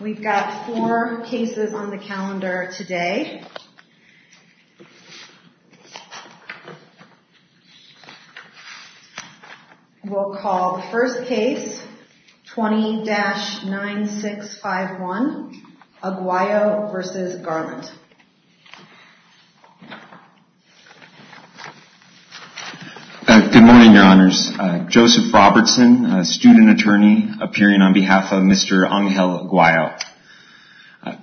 We've got four cases on the calendar today. We'll call the first case, 20-9651, Aguayo v. Garland. Good morning, Your Honors. Joseph Robertson, student attorney, appearing on behalf of Mr. Angel Aguayo.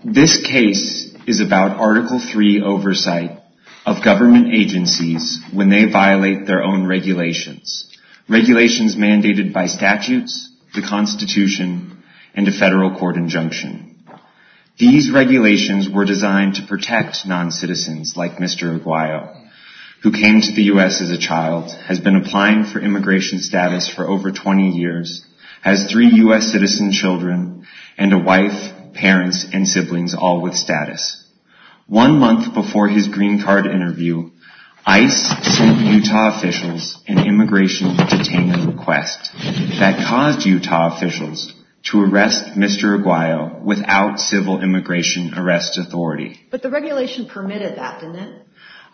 This case is about Article III oversight of government agencies when they violate their own regulations, regulations mandated by statutes, the Constitution, and a federal court injunction. These regulations were designed to protect non-citizens like Mr. Aguayo, who came to the U.S. as a child, has been applying for immigration status for over 20 years, has three U.S. citizen children, and a wife, parents, and siblings, all with status. One month before his green card interview, ICE sent Utah officials an immigration detainment request that caused Utah officials to arrest Mr. Aguayo without civil immigration arrest authority. But the regulation permitted that, didn't it?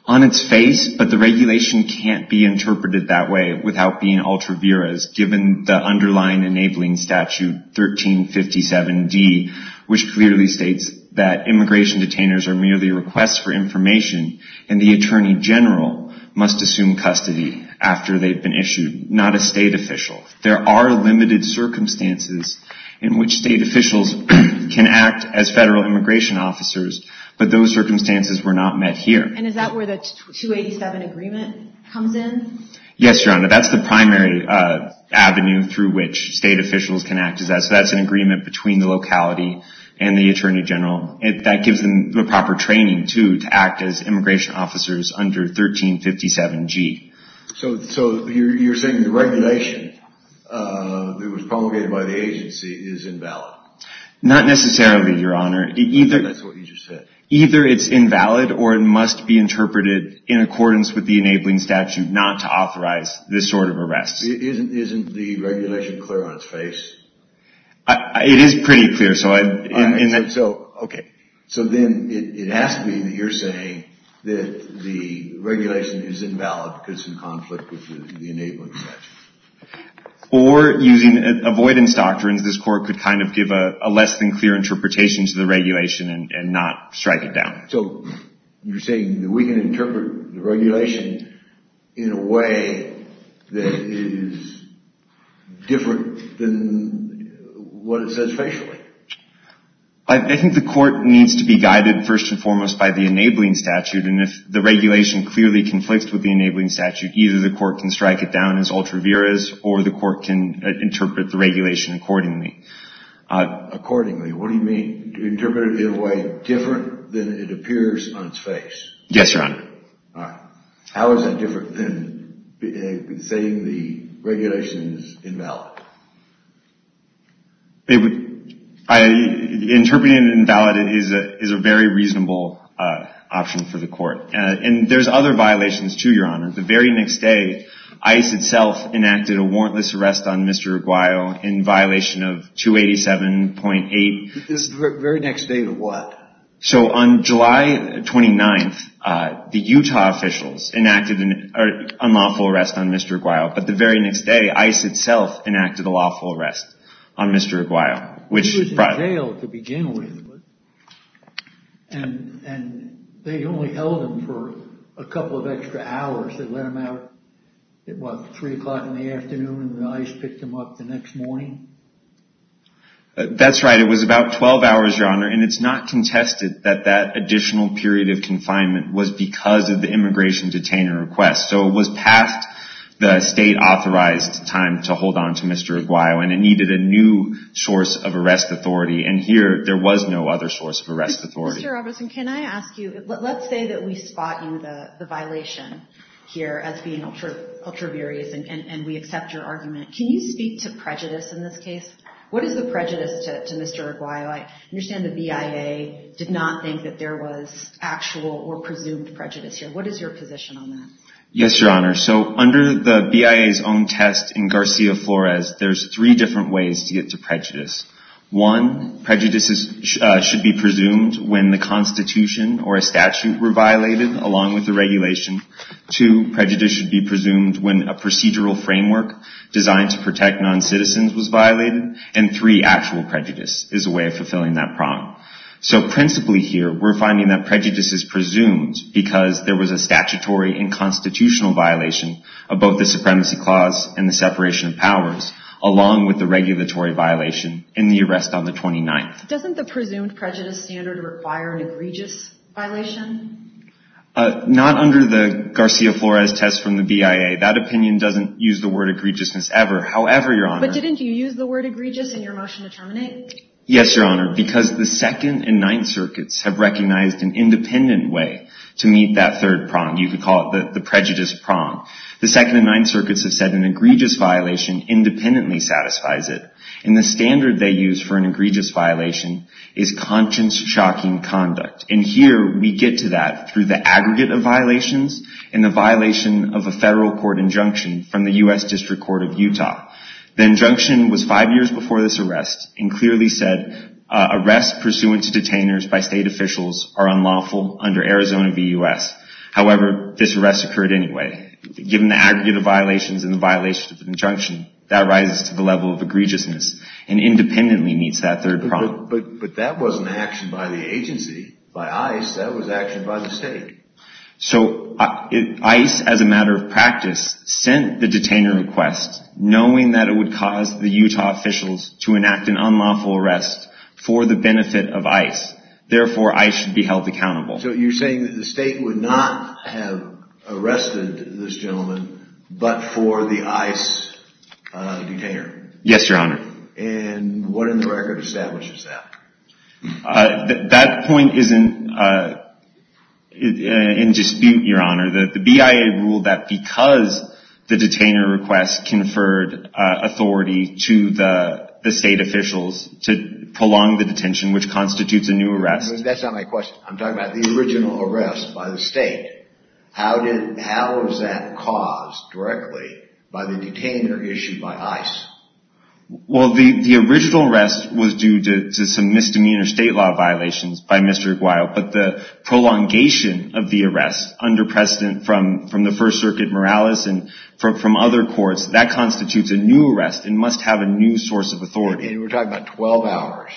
On its face, but the regulation can't be interpreted that way without being ultra viris, given the underlying enabling statute, 1357D, which clearly states that immigration detainers are merely requests for information, and the attorney general must assume custody after they've been issued, not a state official. There are limited circumstances in which state officials can act as federal immigration officers, but those circumstances were not met here. And is that where the 287 agreement comes in? Yes, Your Honor, that's the primary avenue through which state officials can act. So that's an agreement between the locality and the attorney general. That gives them the proper training, too, to act as immigration officers under 1357G. So you're saying the regulation that was promulgated by the agency is invalid? Not necessarily, Your Honor. That's what you just said. Either it's invalid, or it must be interpreted in accordance with the enabling statute not to authorize this sort of arrest. Isn't the regulation clear on its face? It is pretty clear. So then it has to be that you're saying that the regulation is invalid because it's in conflict with the enabling statute. Or, using avoidance doctrines, this court could kind of give a less than clear interpretation to the regulation and not strike it down. So you're saying that we can interpret the regulation in a way that is different than what it says facially? I think the court needs to be guided, first and foremost, by the enabling statute. And if the regulation clearly conflicts with the enabling statute, either the court can strike it down as ultra vires or the court can interpret the regulation accordingly. Accordingly, what do you mean? Do you interpret it in a way different than it appears on its face? Yes, Your Honor. All right. How is that different than saying the regulation is invalid? Interpreting it invalid is a very reasonable option for the court. And there's other violations, too, Your Honor. The very next day, ICE itself enacted a warrantless arrest on Mr. Aguayo in violation of 287.8. The very next day to what? So on July 29th, the Utah officials enacted an unlawful arrest on Mr. Aguayo. But the very next day, ICE itself enacted a lawful arrest on Mr. Aguayo. He was in jail to begin with. And they only held him for a couple of extra hours. They let him out at, what, 3 o'clock in the afternoon, and then ICE picked him up the next morning? That's right. It was about 12 hours, Your Honor. And it's not contested that that additional period of confinement was because of the immigration detainer request. So it was past the state-authorized time to hold on to Mr. Aguayo, and it needed a new source of arrest authority. And here, there was no other source of arrest authority. Mr. Robertson, can I ask you, let's say that we spot you, the violation here, as being ultra-various, and we accept your argument. Can you speak to prejudice in this case? What is the prejudice to Mr. Aguayo? I understand the BIA did not think that there was actual or presumed prejudice here. What is your position on that? Yes, Your Honor. So under the BIA's own test in Garcia-Flores, there's three different ways to get to prejudice. One, prejudice should be presumed when the Constitution or a statute were violated, along with the regulation. Two, prejudice should be presumed when a procedural framework designed to protect noncitizens was violated. And three, actual prejudice is a way of fulfilling that prong. So principally here, we're finding that prejudice is presumed because there was a statutory and constitutional violation of both the supremacy clause and the separation of powers, along with the regulatory violation in the arrest on the 29th. Doesn't the presumed prejudice standard require an egregious violation? Not under the Garcia-Flores test from the BIA. That opinion doesn't use the word egregiousness ever. However, Your Honor. But didn't you use the word egregious in your motion to terminate? Yes, Your Honor. Because the Second and Ninth Circuits have recognized an independent way to meet that third prong. You could call it the prejudice prong. The Second and Ninth Circuits have said an egregious violation independently satisfies it. And the standard they use for an egregious violation is conscience-shocking conduct. And here, we get to that through the aggregate of violations and the violation of a federal court injunction from the U.S. District Court of Utah. The injunction was five years before this arrest and clearly said, arrests pursuant to detainers by state officials are unlawful under Arizona v. U.S. However, this arrest occurred anyway. Given the aggregate of violations and the violation of the injunction, that rises to the level of egregiousness and independently meets that third prong. But that wasn't action by the agency. By ICE, that was action by the state. So ICE, as a matter of practice, sent the detainer request knowing that it would cause the Utah officials to enact an unlawful arrest for the benefit of ICE. Therefore, ICE should be held accountable. So you're saying that the state would not have arrested this gentleman but for the ICE detainer? Yes, Your Honor. And what in the record establishes that? That point is in dispute, Your Honor. The BIA ruled that because the detainer request conferred authority to the state officials to prolong the detention, which constitutes a new arrest. That's not my question. I'm talking about the original arrest by the state. How was that caused directly by the detainer issued by ICE? Well, the original arrest was due to some misdemeanor state law violations by Mr. Aguayo, but the prolongation of the arrest under precedent from the First Circuit Morales and from other courts, that constitutes a new arrest and must have a new source of authority. And we're talking about 12 hours,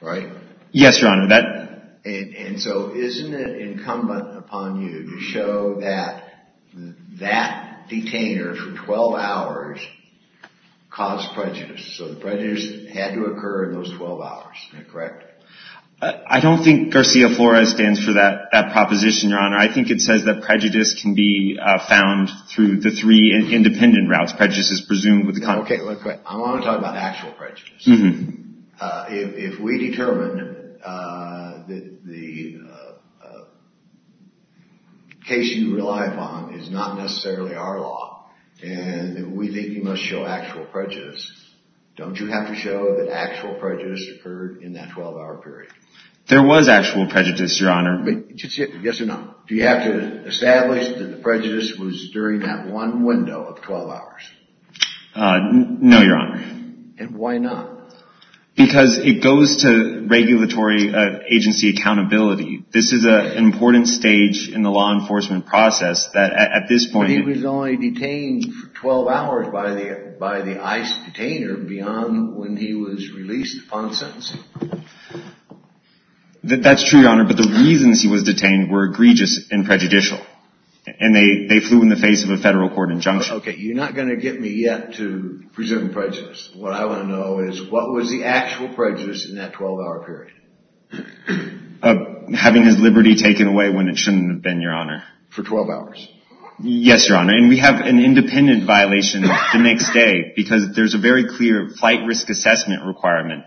right? Yes, Your Honor. And so isn't it incumbent upon you to show that that detainer for 12 hours caused prejudice? So the prejudice had to occur in those 12 hours, correct? I don't think Garcia Flores stands for that proposition, Your Honor. I think it says that prejudice can be found through the three independent routes. Prejudice is presumed with the confidant. I want to talk about actual prejudice. If we determine that the case you rely upon is not necessarily our law and we think you must show actual prejudice, don't you have to show that actual prejudice occurred in that 12-hour period? There was actual prejudice, Your Honor. Yes or no? Do you have to establish that the prejudice was during that one window of 12 hours? No, Your Honor. And why not? Because it goes to regulatory agency accountability. This is an important stage in the law enforcement process that at this point— But he was only detained for 12 hours by the ICE detainer beyond when he was released upon sentencing. That's true, Your Honor, but the reasons he was detained were egregious and prejudicial, and they flew in the face of a federal court injunction. Okay, you're not going to get me yet to presume prejudice. What I want to know is what was the actual prejudice in that 12-hour period? Having his liberty taken away when it shouldn't have been, Your Honor. For 12 hours? Yes, Your Honor, and we have an independent violation the next day because there's a very clear flight risk assessment requirement.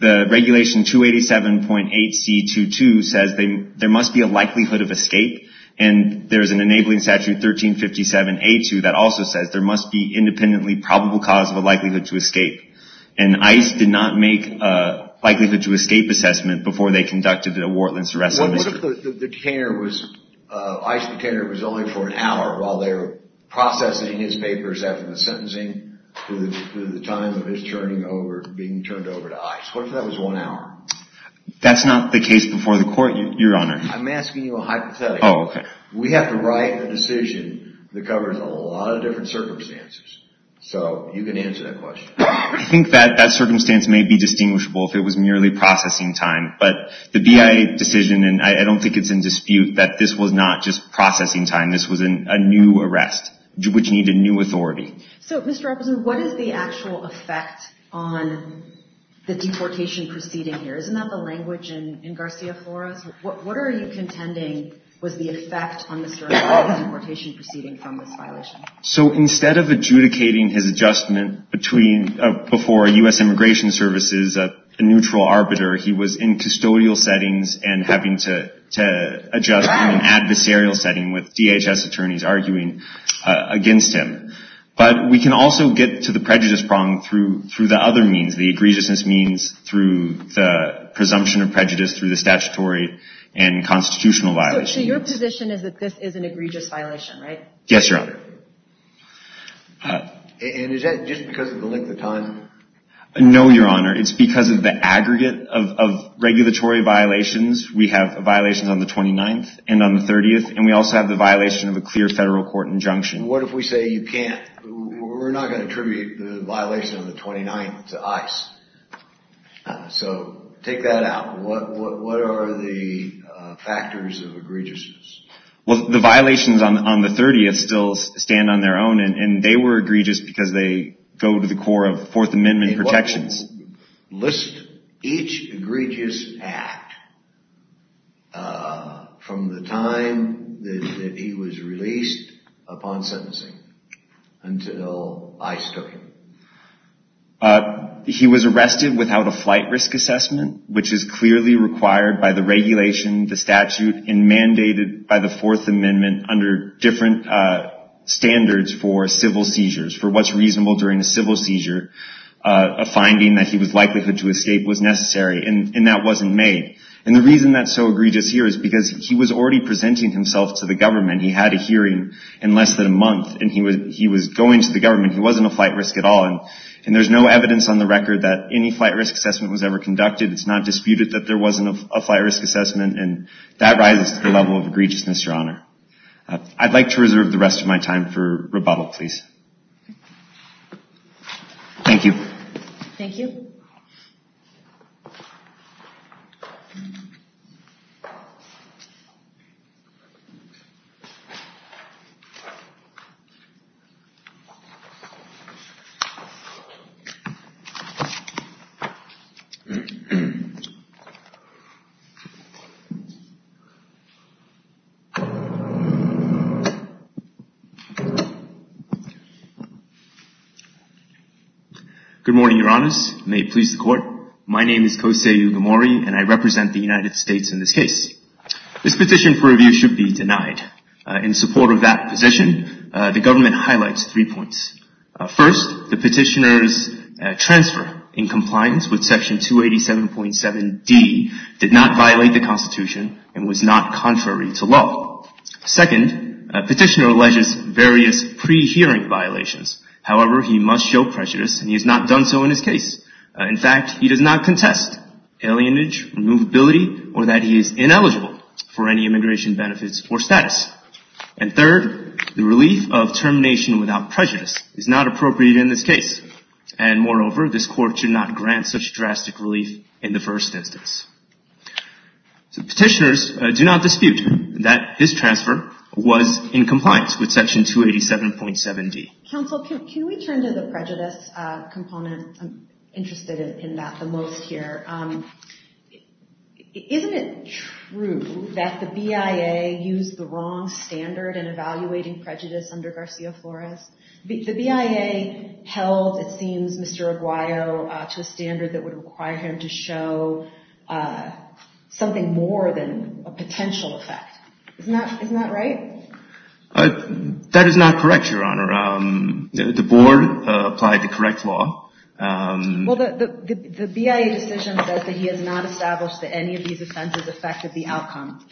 The regulation 287.8C22 says there must be a likelihood of escape, and there's an enabling statute, 1357A2, that also says there must be independently probable cause of a likelihood to escape. And ICE did not make a likelihood to escape assessment before they conducted the Wartland-Saracen visit. What if the ICE detainer was only for an hour while they were processing his papers after the sentencing through the time of his being turned over to ICE? What if that was one hour? That's not the case before the court, Your Honor. I'm asking you a hypothetical. We have to write a decision that covers a lot of different circumstances, so you can answer that question. I think that circumstance may be distinguishable if it was merely processing time, but the BIA decision, and I don't think it's in dispute, that this was not just processing time. This was a new arrest, which needed new authority. So, Mr. Rupperson, what is the actual effect on the deportation proceeding here? Isn't that the language in Garcia Flores? What are you contending was the effect on the deportation proceeding from this violation? So instead of adjudicating his adjustment before U.S. Immigration Services, a neutral arbiter, he was in custodial settings and having to adjust in an adversarial setting with DHS attorneys arguing against him. But we can also get to the prejudice problem through the other means, the egregiousness means through the presumption of prejudice, through the statutory and constitutional violations. So your position is that this is an egregious violation, right? Yes, Your Honor. And is that just because of the length of time? No, Your Honor. It's because of the aggregate of regulatory violations. We have violations on the 29th and on the 30th, and we also have the violation of a clear federal court injunction. What if we say you can't? We're not going to attribute the violation on the 29th to ICE. So take that out. What are the factors of egregiousness? Well, the violations on the 30th still stand on their own, and they were egregious because they go to the core of Fourth Amendment protections. Each egregious act from the time that he was released upon sentencing until ICE took him. He was arrested without a flight risk assessment, which is clearly required by the regulation, the statute, and mandated by the Fourth Amendment under different standards for civil seizures, for what's reasonable during a civil seizure. A finding that he was likely to escape was necessary, and that wasn't made. And the reason that's so egregious here is because he was already presenting himself to the government. He had a hearing in less than a month, and he was going to the government. He wasn't a flight risk at all, and there's no evidence on the record that any flight risk assessment was ever conducted. It's not disputed that there wasn't a flight risk assessment, and that rises to the level of egregiousness, Your Honor. I'd like to reserve the rest of my time for rebuttal, please. Thank you. Thank you. Good morning, Your Honors. May it please the Court. My name is Kosei Ugamori, and I represent the United States in this case. This petition for review should be denied. In support of that position, the government highlights three points. First, the petitioner's transfer in compliance with Section 287.7d did not violate the Constitution and was not contrary to law. Second, the petitioner alleges various pre-hearing violations. However, he must show prejudice, and he has not done so in this case. In fact, he does not contest alienage, removability, or that he is ineligible for any immigration benefits or status. And third, the relief of termination without prejudice is not appropriate in this case, and moreover, this Court should not grant such drastic relief in the first instance. Petitioners do not dispute that his transfer was in compliance with Section 287.7d. Counsel, can we turn to the prejudice component? I'm interested in that the most here. Isn't it true that the BIA used the wrong standard in evaluating prejudice under Garcia Flores? The BIA held, it seems, Mr. Aguayo to a standard that would require him to show something more than a potential effect. Isn't that right? That is not correct, Your Honor. The board applied the correct law. Well, the BIA decision says that he has not established that any of these offenses affected the outcome.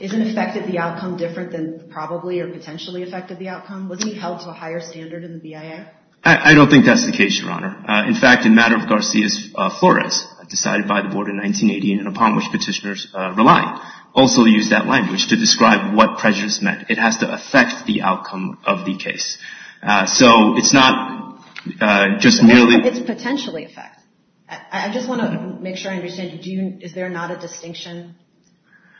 Isn't affected the outcome different than probably or potentially affected the outcome? Wasn't he held to a higher standard in the BIA? I don't think that's the case, Your Honor. In fact, in matter of Garcia Flores, decided by the board in 1980 and upon which petitioners rely, also used that language to describe what prejudice meant. It has to affect the outcome of the case. So it's not just merely – It's potentially effect. I just want to make sure I understand. Is there not a distinction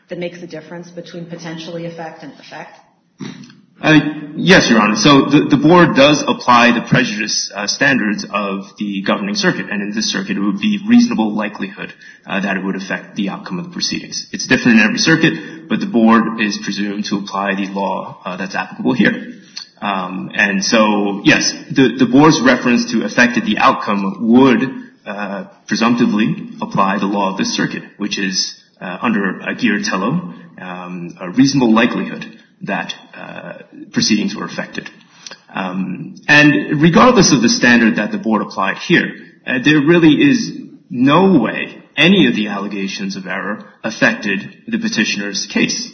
that makes the difference between potentially effect and effect? Yes, Your Honor. So the board does apply the prejudice standards of the governing circuit. And in this circuit, it would be reasonable likelihood that it would affect the outcome of the proceedings. It's different in every circuit, but the board is presumed to apply the law that's applicable here. And so, yes, the board's reference to effect of the outcome would presumptively apply the law of the circuit, which is under a guillotino, a reasonable likelihood that proceedings were affected. And regardless of the standard that the board applied here, there really is no way any of the allegations of error affected the petitioner's case.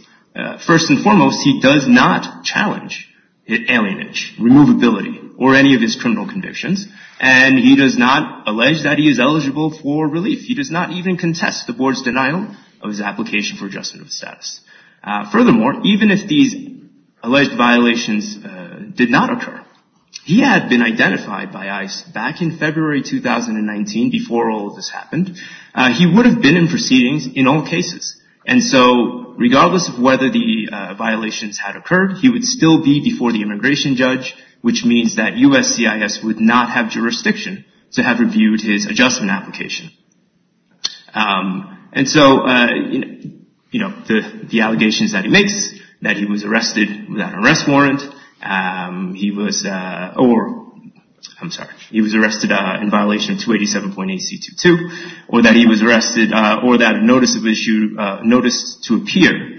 First and foremost, he does not challenge alienage, removability, or any of his criminal convictions. And he does not allege that he is eligible for relief. He does not even contest the board's denial of his application for adjustment of status. Furthermore, even if these alleged violations did not occur, he had been identified by ICE back in February 2019 before all of this happened. He would have been in proceedings in all cases. And so, regardless of whether the violations had occurred, he would still be before the immigration judge, which means that USCIS would not have jurisdiction to have reviewed his adjustment application. And so, you know, the allegations that he makes, that he was arrested without an arrest warrant, he was arrested in violation of 287.8C22, or that a notice to appear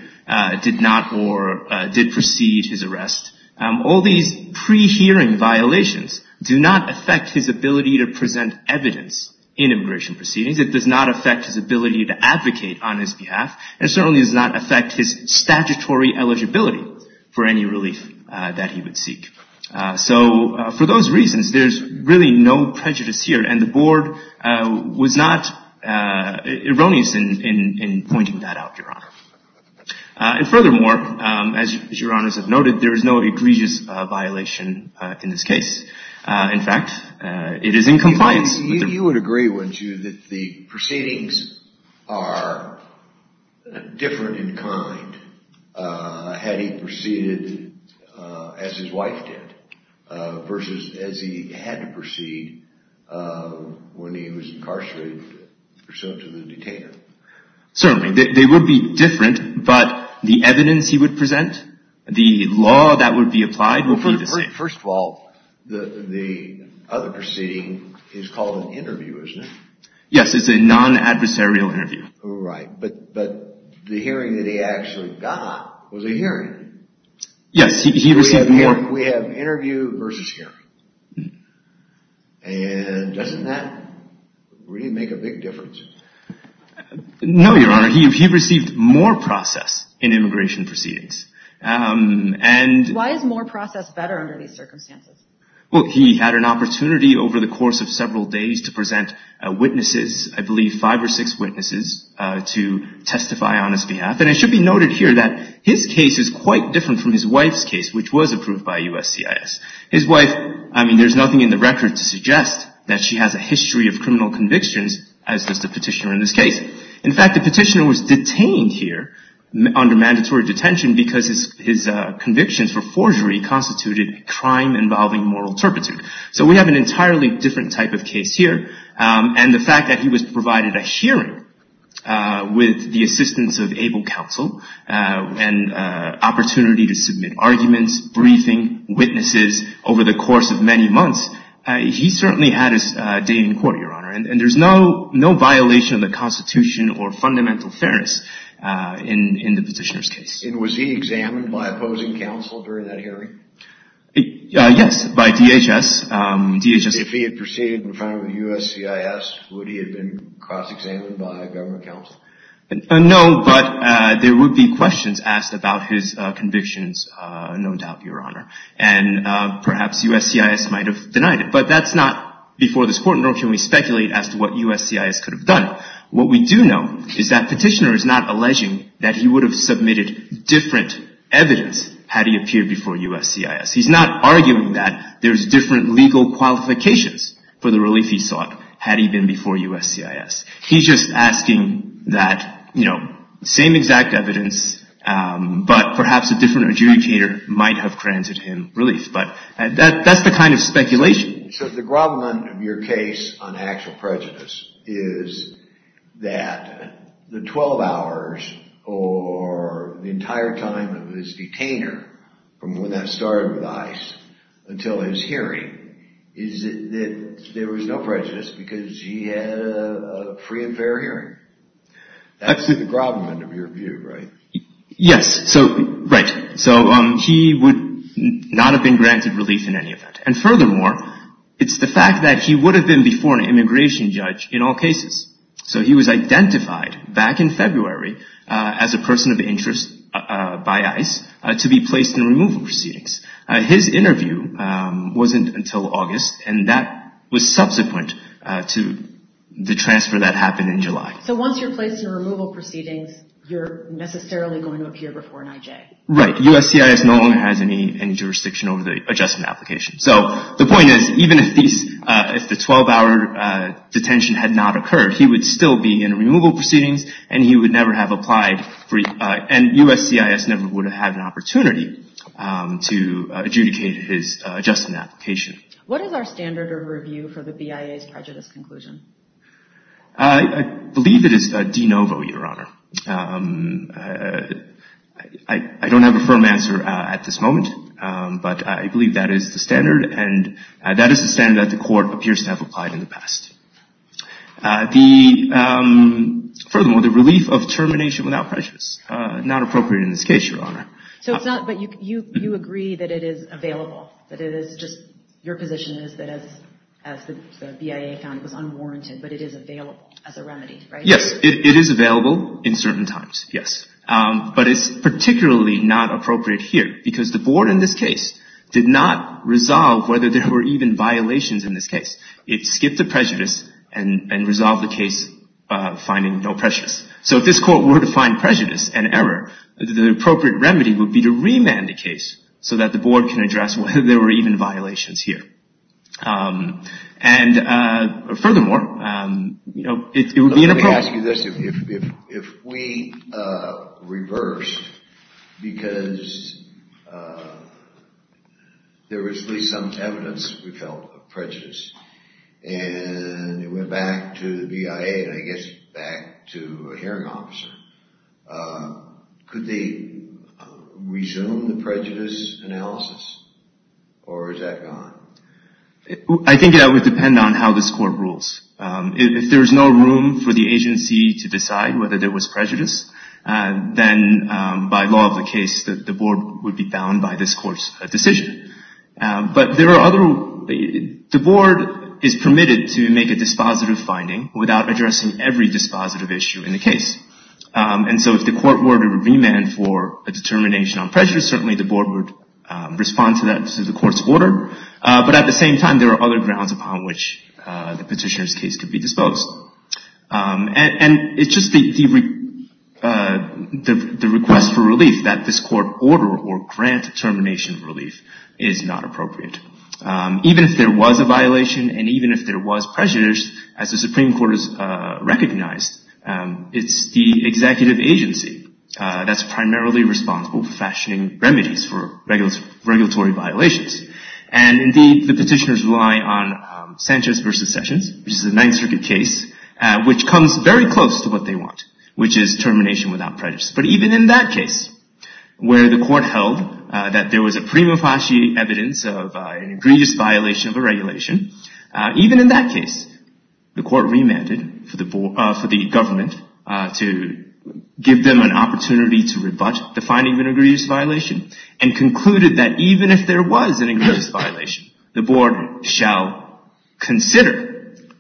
did not or did precede his arrest, all these pre-hearing violations do not affect his ability to present evidence in immigration proceedings. It does not affect his ability to advocate on his behalf. And it certainly does not affect his statutory eligibility for any relief that he would seek. So, for those reasons, there's really no prejudice here. And the board was not erroneous in pointing that out, Your Honor. And furthermore, as Your Honors have noted, there is no egregious violation in this case. In fact, it is in compliance. You would agree, wouldn't you, that the proceedings are different in kind had he proceeded as his wife did, versus as he had to proceed when he was incarcerated pursuant to the detainer? Certainly. They would be different, but the evidence he would present, the law that would be applied would be the same. First of all, the other proceeding is called an interview, isn't it? Yes, it's a non-adversarial interview. Right. But the hearing that he actually got was a hearing. Yes. We have interview versus hearing. And doesn't that really make a big difference? No, Your Honor. He received more process in immigration proceedings. Why is more process better under these circumstances? Well, he had an opportunity over the course of several days to present witnesses, I believe five or six witnesses, to testify on his behalf. And it should be noted here that his case is quite different from his wife's case, which was approved by USCIS. His wife, I mean, there's nothing in the record to suggest that she has a history of criminal convictions, as does the petitioner in this case. In fact, the petitioner was detained here under mandatory detention because his convictions for forgery constituted crime involving moral turpitude. So we have an entirely different type of case here. And the fact that he was provided a hearing with the assistance of able counsel and opportunity to submit arguments, briefing, witnesses over the course of many months, he certainly had his day in court, Your Honor. And there's no violation of the Constitution or fundamental fairness in the petitioner's case. And was he examined by opposing counsel during that hearing? Yes, by DHS. If he had proceeded in front of USCIS, would he have been cross-examined by government counsel? No, but there would be questions asked about his convictions, no doubt, Your Honor. And perhaps USCIS might have denied it. But that's not before this court, nor can we speculate as to what USCIS could have done. What we do know is that petitioner is not alleging that he would have submitted different evidence had he appeared before USCIS. He's not arguing that there's different legal qualifications for the relief he sought had he been before USCIS. He's just asking that, you know, same exact evidence, but perhaps a different adjudicator might have granted him relief. But that's the kind of speculation. So the grovelment of your case on actual prejudice is that the 12 hours or the entire time of his detainer, from when that started with ICE until his hearing, is that there was no prejudice because he had a free and fair hearing? That's the grovelment of your view, right? Yes, so right. So he would not have been granted relief in any event. And furthermore, it's the fact that he would have been before an immigration judge in all cases. So he was identified back in February as a person of interest by ICE to be placed in removal proceedings. His interview wasn't until August, and that was subsequent to the transfer that happened in July. So once you're placed in removal proceedings, you're necessarily going to appear before an IJ? Right. USCIS no longer has any jurisdiction over the adjustment application. So the point is, even if the 12-hour detention had not occurred, he would still be in removal proceedings, and he would never have applied, and USCIS never would have had an opportunity to adjudicate his adjustment application. What is our standard of review for the BIA's prejudice conclusion? I believe it is de novo, Your Honor. I don't have a firm answer at this moment, but I believe that is the standard, and that is the standard that the court appears to have applied in the past. Furthermore, the relief of termination without prejudice, not appropriate in this case, Your Honor. So it's not, but you agree that it is available, that it is just, your position is that as the BIA found it was unwarranted, but it is available as a remedy, right? Yes, it is available in certain times, yes. But it's particularly not appropriate here, because the board in this case did not resolve whether there were even violations in this case. It skipped the prejudice and resolved the case finding no prejudice. So if this court were to find prejudice and error, the appropriate remedy would be to remand the case so that the board can address whether there were even violations here. And furthermore, you know, it would be inappropriate. Let me ask you this. If we reversed because there was at least some evidence, we felt, of prejudice, and it went back to the BIA and I guess back to a hearing officer, could they resume the prejudice analysis, or is that gone? I think that would depend on how this court rules. If there is no room for the agency to decide whether there was prejudice, then by law of the case the board would be bound by this court's decision. But there are other rules. The board is permitted to make a dispositive finding without addressing every dispositive issue in the case. And so if the court were to remand for a determination on prejudice, certainly the board would respond to that through the court's order. But at the same time, there are other grounds upon which the petitioner's case could be disposed. And it's just the request for relief that this court order or grant termination relief is not appropriate. Even if there was a violation and even if there was prejudice, as the Supreme Court has recognized, it's the executive agency that's primarily responsible for fashioning remedies for regulatory violations. And, indeed, the petitioners rely on Sanchez v. Sessions, which is a Ninth Circuit case, which comes very close to what they want, which is termination without prejudice. But even in that case, where the court held that there was a prima facie evidence of an egregious violation of a regulation, even in that case, the court remanded for the government to give them an opportunity to rebut the finding of an egregious violation and concluded that even if there was an egregious violation, the board shall consider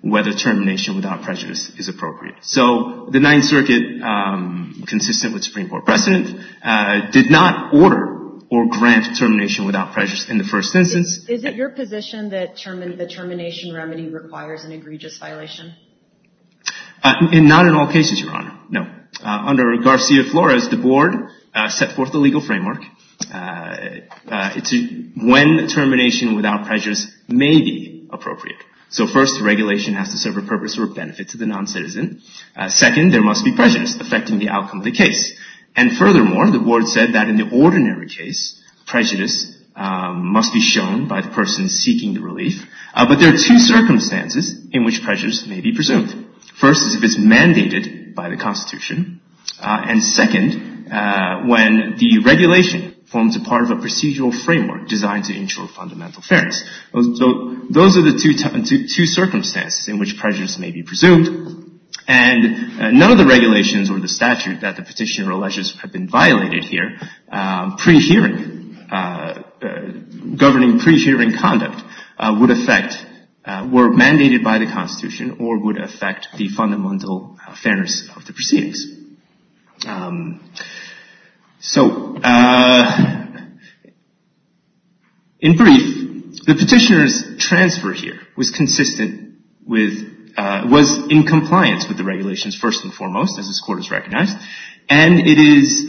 whether termination without prejudice is appropriate. So the Ninth Circuit, consistent with Supreme Court precedent, did not order or grant termination without prejudice in the first instance. Is it your position that the termination remedy requires an egregious violation? Not in all cases, Your Honor. No. Under Garcia-Flores, the board set forth the legal framework when termination without prejudice may be appropriate. So, first, regulation has to serve a purpose or benefit to the noncitizen. Second, there must be prejudice affecting the outcome of the case. And furthermore, the board said that in the ordinary case, prejudice must be shown by the person seeking the relief. But there are two circumstances in which prejudice may be presumed. First, if it's mandated by the Constitution. And second, when the regulation forms a part of a procedural framework designed to ensure fundamental fairness. So those are the two circumstances in which prejudice may be presumed. And none of the regulations or the statute that the petitioner alleges have been violated here pre-hearing, governing pre-hearing conduct would affect were mandated by the Constitution or would affect the fundamental fairness of the proceedings. So, in brief, the petitioner's transfer here was consistent with, was in compliance with the regulations first and foremost, as this Court has recognized. And it is,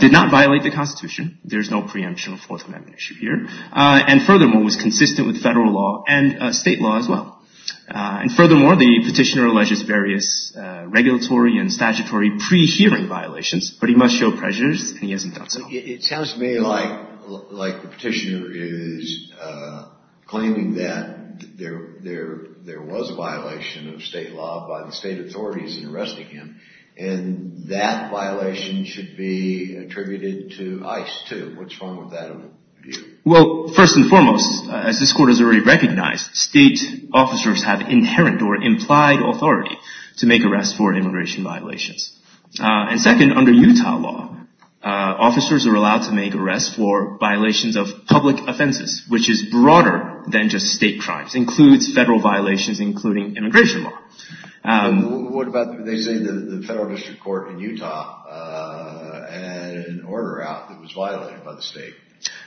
did not violate the Constitution. There's no preemption of Fourth Amendment issue here. And furthermore, it was consistent with federal law and state law as well. And furthermore, the petitioner alleges various regulatory and statutory pre-hearing violations. But he must show prejudice and he hasn't done so. It sounds to me like the petitioner is claiming that there was a violation of state law by the state authorities in arresting him. And that violation should be attributed to ICE too. What's wrong with that view? Well, first and foremost, as this Court has already recognized, state officers have inherent or implied authority to make arrests for immigration violations. And second, under Utah law, officers are allowed to make arrests for violations of public offenses, which is broader than just state crimes, includes federal violations, including immigration law. What about, they say the federal district court in Utah had an order out that was violated by the state.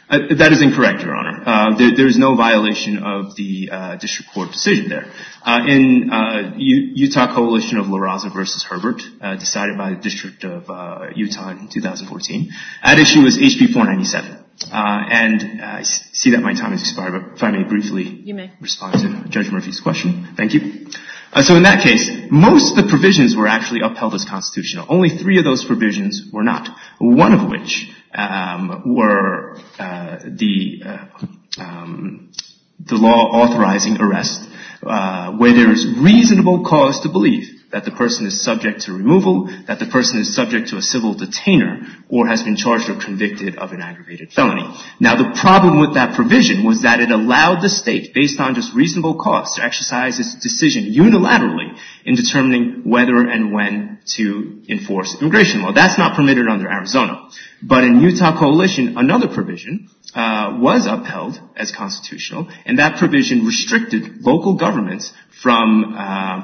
That is incorrect, Your Honor. There is no violation of the district court decision there. In Utah Coalition of LaRosa versus Herbert, decided by the District of Utah in 2014, that issue was HB 497. And I see that my time has expired, but if I may briefly respond to Judge Murphy's question. Thank you. So in that case, most of the provisions were actually upheld as constitutional. Only three of those provisions were not. One of which were the law authorizing arrest where there is reasonable cause to believe that the person is subject to removal, that the person is subject to a civil detainer, or has been charged or convicted of an aggravated felony. Now, the problem with that provision was that it allowed the state, based on just reasonable cause, to exercise its decision unilaterally in determining whether and when to enforce immigration law. That's not permitted under Arizona. But in Utah Coalition, another provision was upheld as constitutional, and that provision restricted local governments from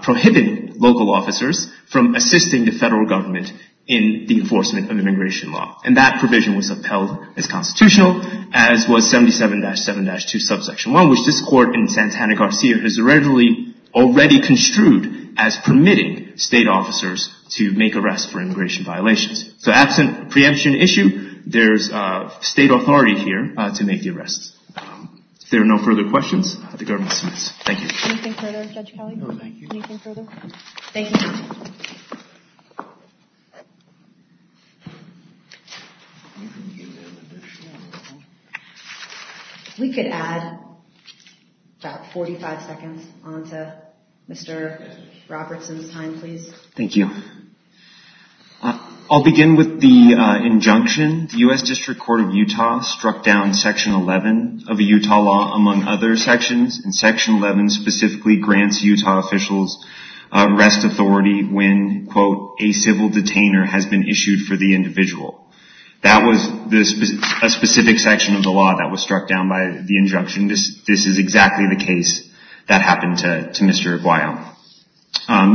prohibiting local officers from assisting the federal government in the enforcement of immigration law. And that provision was upheld as constitutional, as was 77-7-2 subsection 1, which this Court in Santana-Garcia has already construed as permitting state officers to make arrests for immigration violations. So absent preemption issue, there's state authority here to make the arrests. If there are no further questions, the government submits. Thank you. Anything further, Judge Kelly? No, thank you. Anything further? Thank you. We could add about 45 seconds onto Mr. Robertson's time, please. Thank you. I'll begin with the injunction. The U.S. District Court of Utah struck down Section 11 of a Utah law, among other sections. And Section 11 specifically grants Utah officials arrest authority when, quote, a civil detainer has been issued for the individual. That was a specific section of the law that was struck down by the injunction. This is exactly the case that happened to Mr. Aguayo.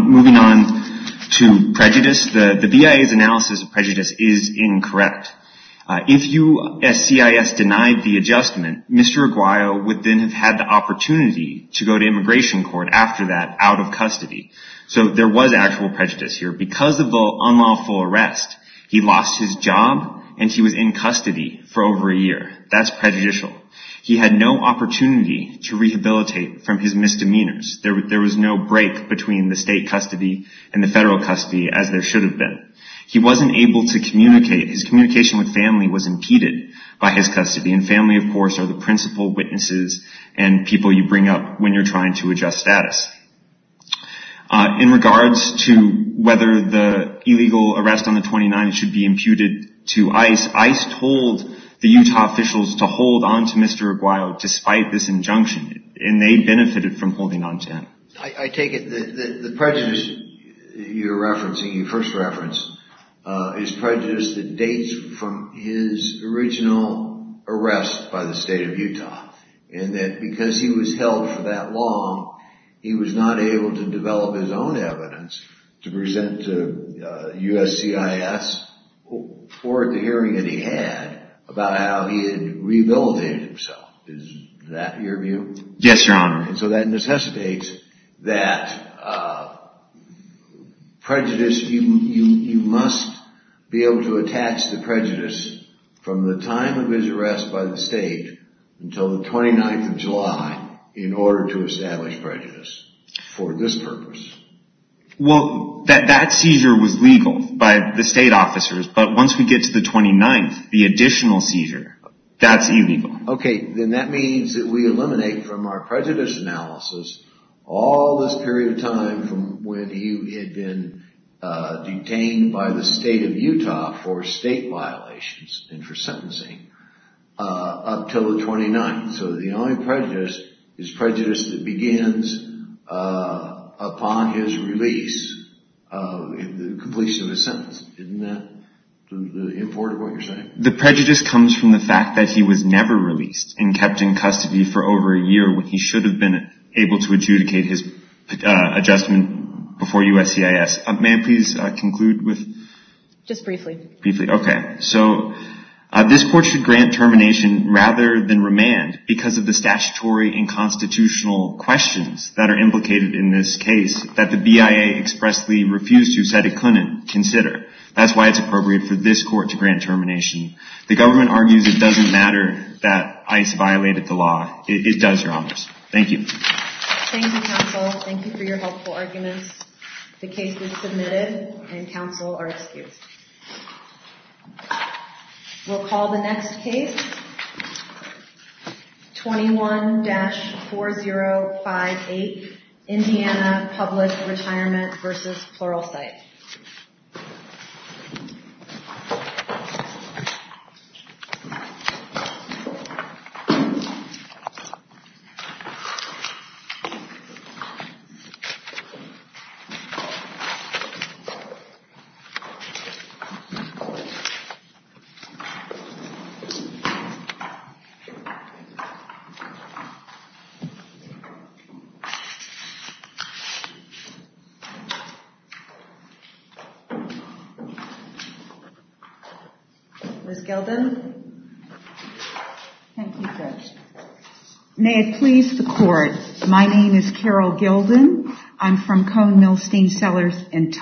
Moving on to prejudice, the BIA's analysis of prejudice is incorrect. If you, as CIS, denied the adjustment, Mr. Aguayo would then have had the opportunity to go to immigration court after that, out of custody. So there was actual prejudice here. Because of the unlawful arrest, he lost his job and he was in custody for over a year. That's prejudicial. He had no opportunity to rehabilitate from his misdemeanors. There was no break between the state custody and the federal custody, as there should have been. He wasn't able to communicate. His communication with family was impeded by his custody. And family, of course, are the principal witnesses and people you bring up when you're trying to adjust status. In regards to whether the illegal arrest on the 29th should be imputed to ICE, ICE told the Utah officials to hold on to Mr. Aguayo despite this injunction. And they benefited from holding on to him. I take it that the prejudice you're referencing, you first referenced, is prejudice that dates from his original arrest by the state of Utah. And that because he was held for that long, he was not able to develop his own evidence to present to USCIS for the hearing that he had about how he had rehabilitated himself. Yes, Your Honor. And so that necessitates that prejudice, you must be able to attach the prejudice from the time of his arrest by the state until the 29th of July in order to establish prejudice for this purpose. Well, that seizure was legal by the state officers. But once we get to the 29th, the additional seizure, that's illegal. Okay, then that means that we eliminate from our prejudice analysis all this period of time from when he had been detained by the state of Utah for state violations and for sentencing up until the 29th. So the only prejudice is prejudice that begins upon his release, the completion of his sentence. Isn't that important, what you're saying? The prejudice comes from the fact that he was never released and kept in custody for over a year when he should have been able to adjudicate his adjustment before USCIS. May I please conclude with? Just briefly. Briefly, okay. So this court should grant termination rather than remand because of the statutory and constitutional questions that are implicated in this case that the BIA expressly refused to, said it couldn't consider. That's why it's appropriate for this court to grant termination. The government argues it doesn't matter that ICE violated the law. It does your honors. Thank you. Thank you, counsel. Thank you for your helpful arguments. The case is submitted and counsel are excused. We'll call the next case, 21-4058, Indiana Public Retirement v. Pluralsight. Ms. Gilden. Thank you, Judge. May it please the court. My name is Carol Gilden. I'm from Cone Milstein Cellars in Tulsa.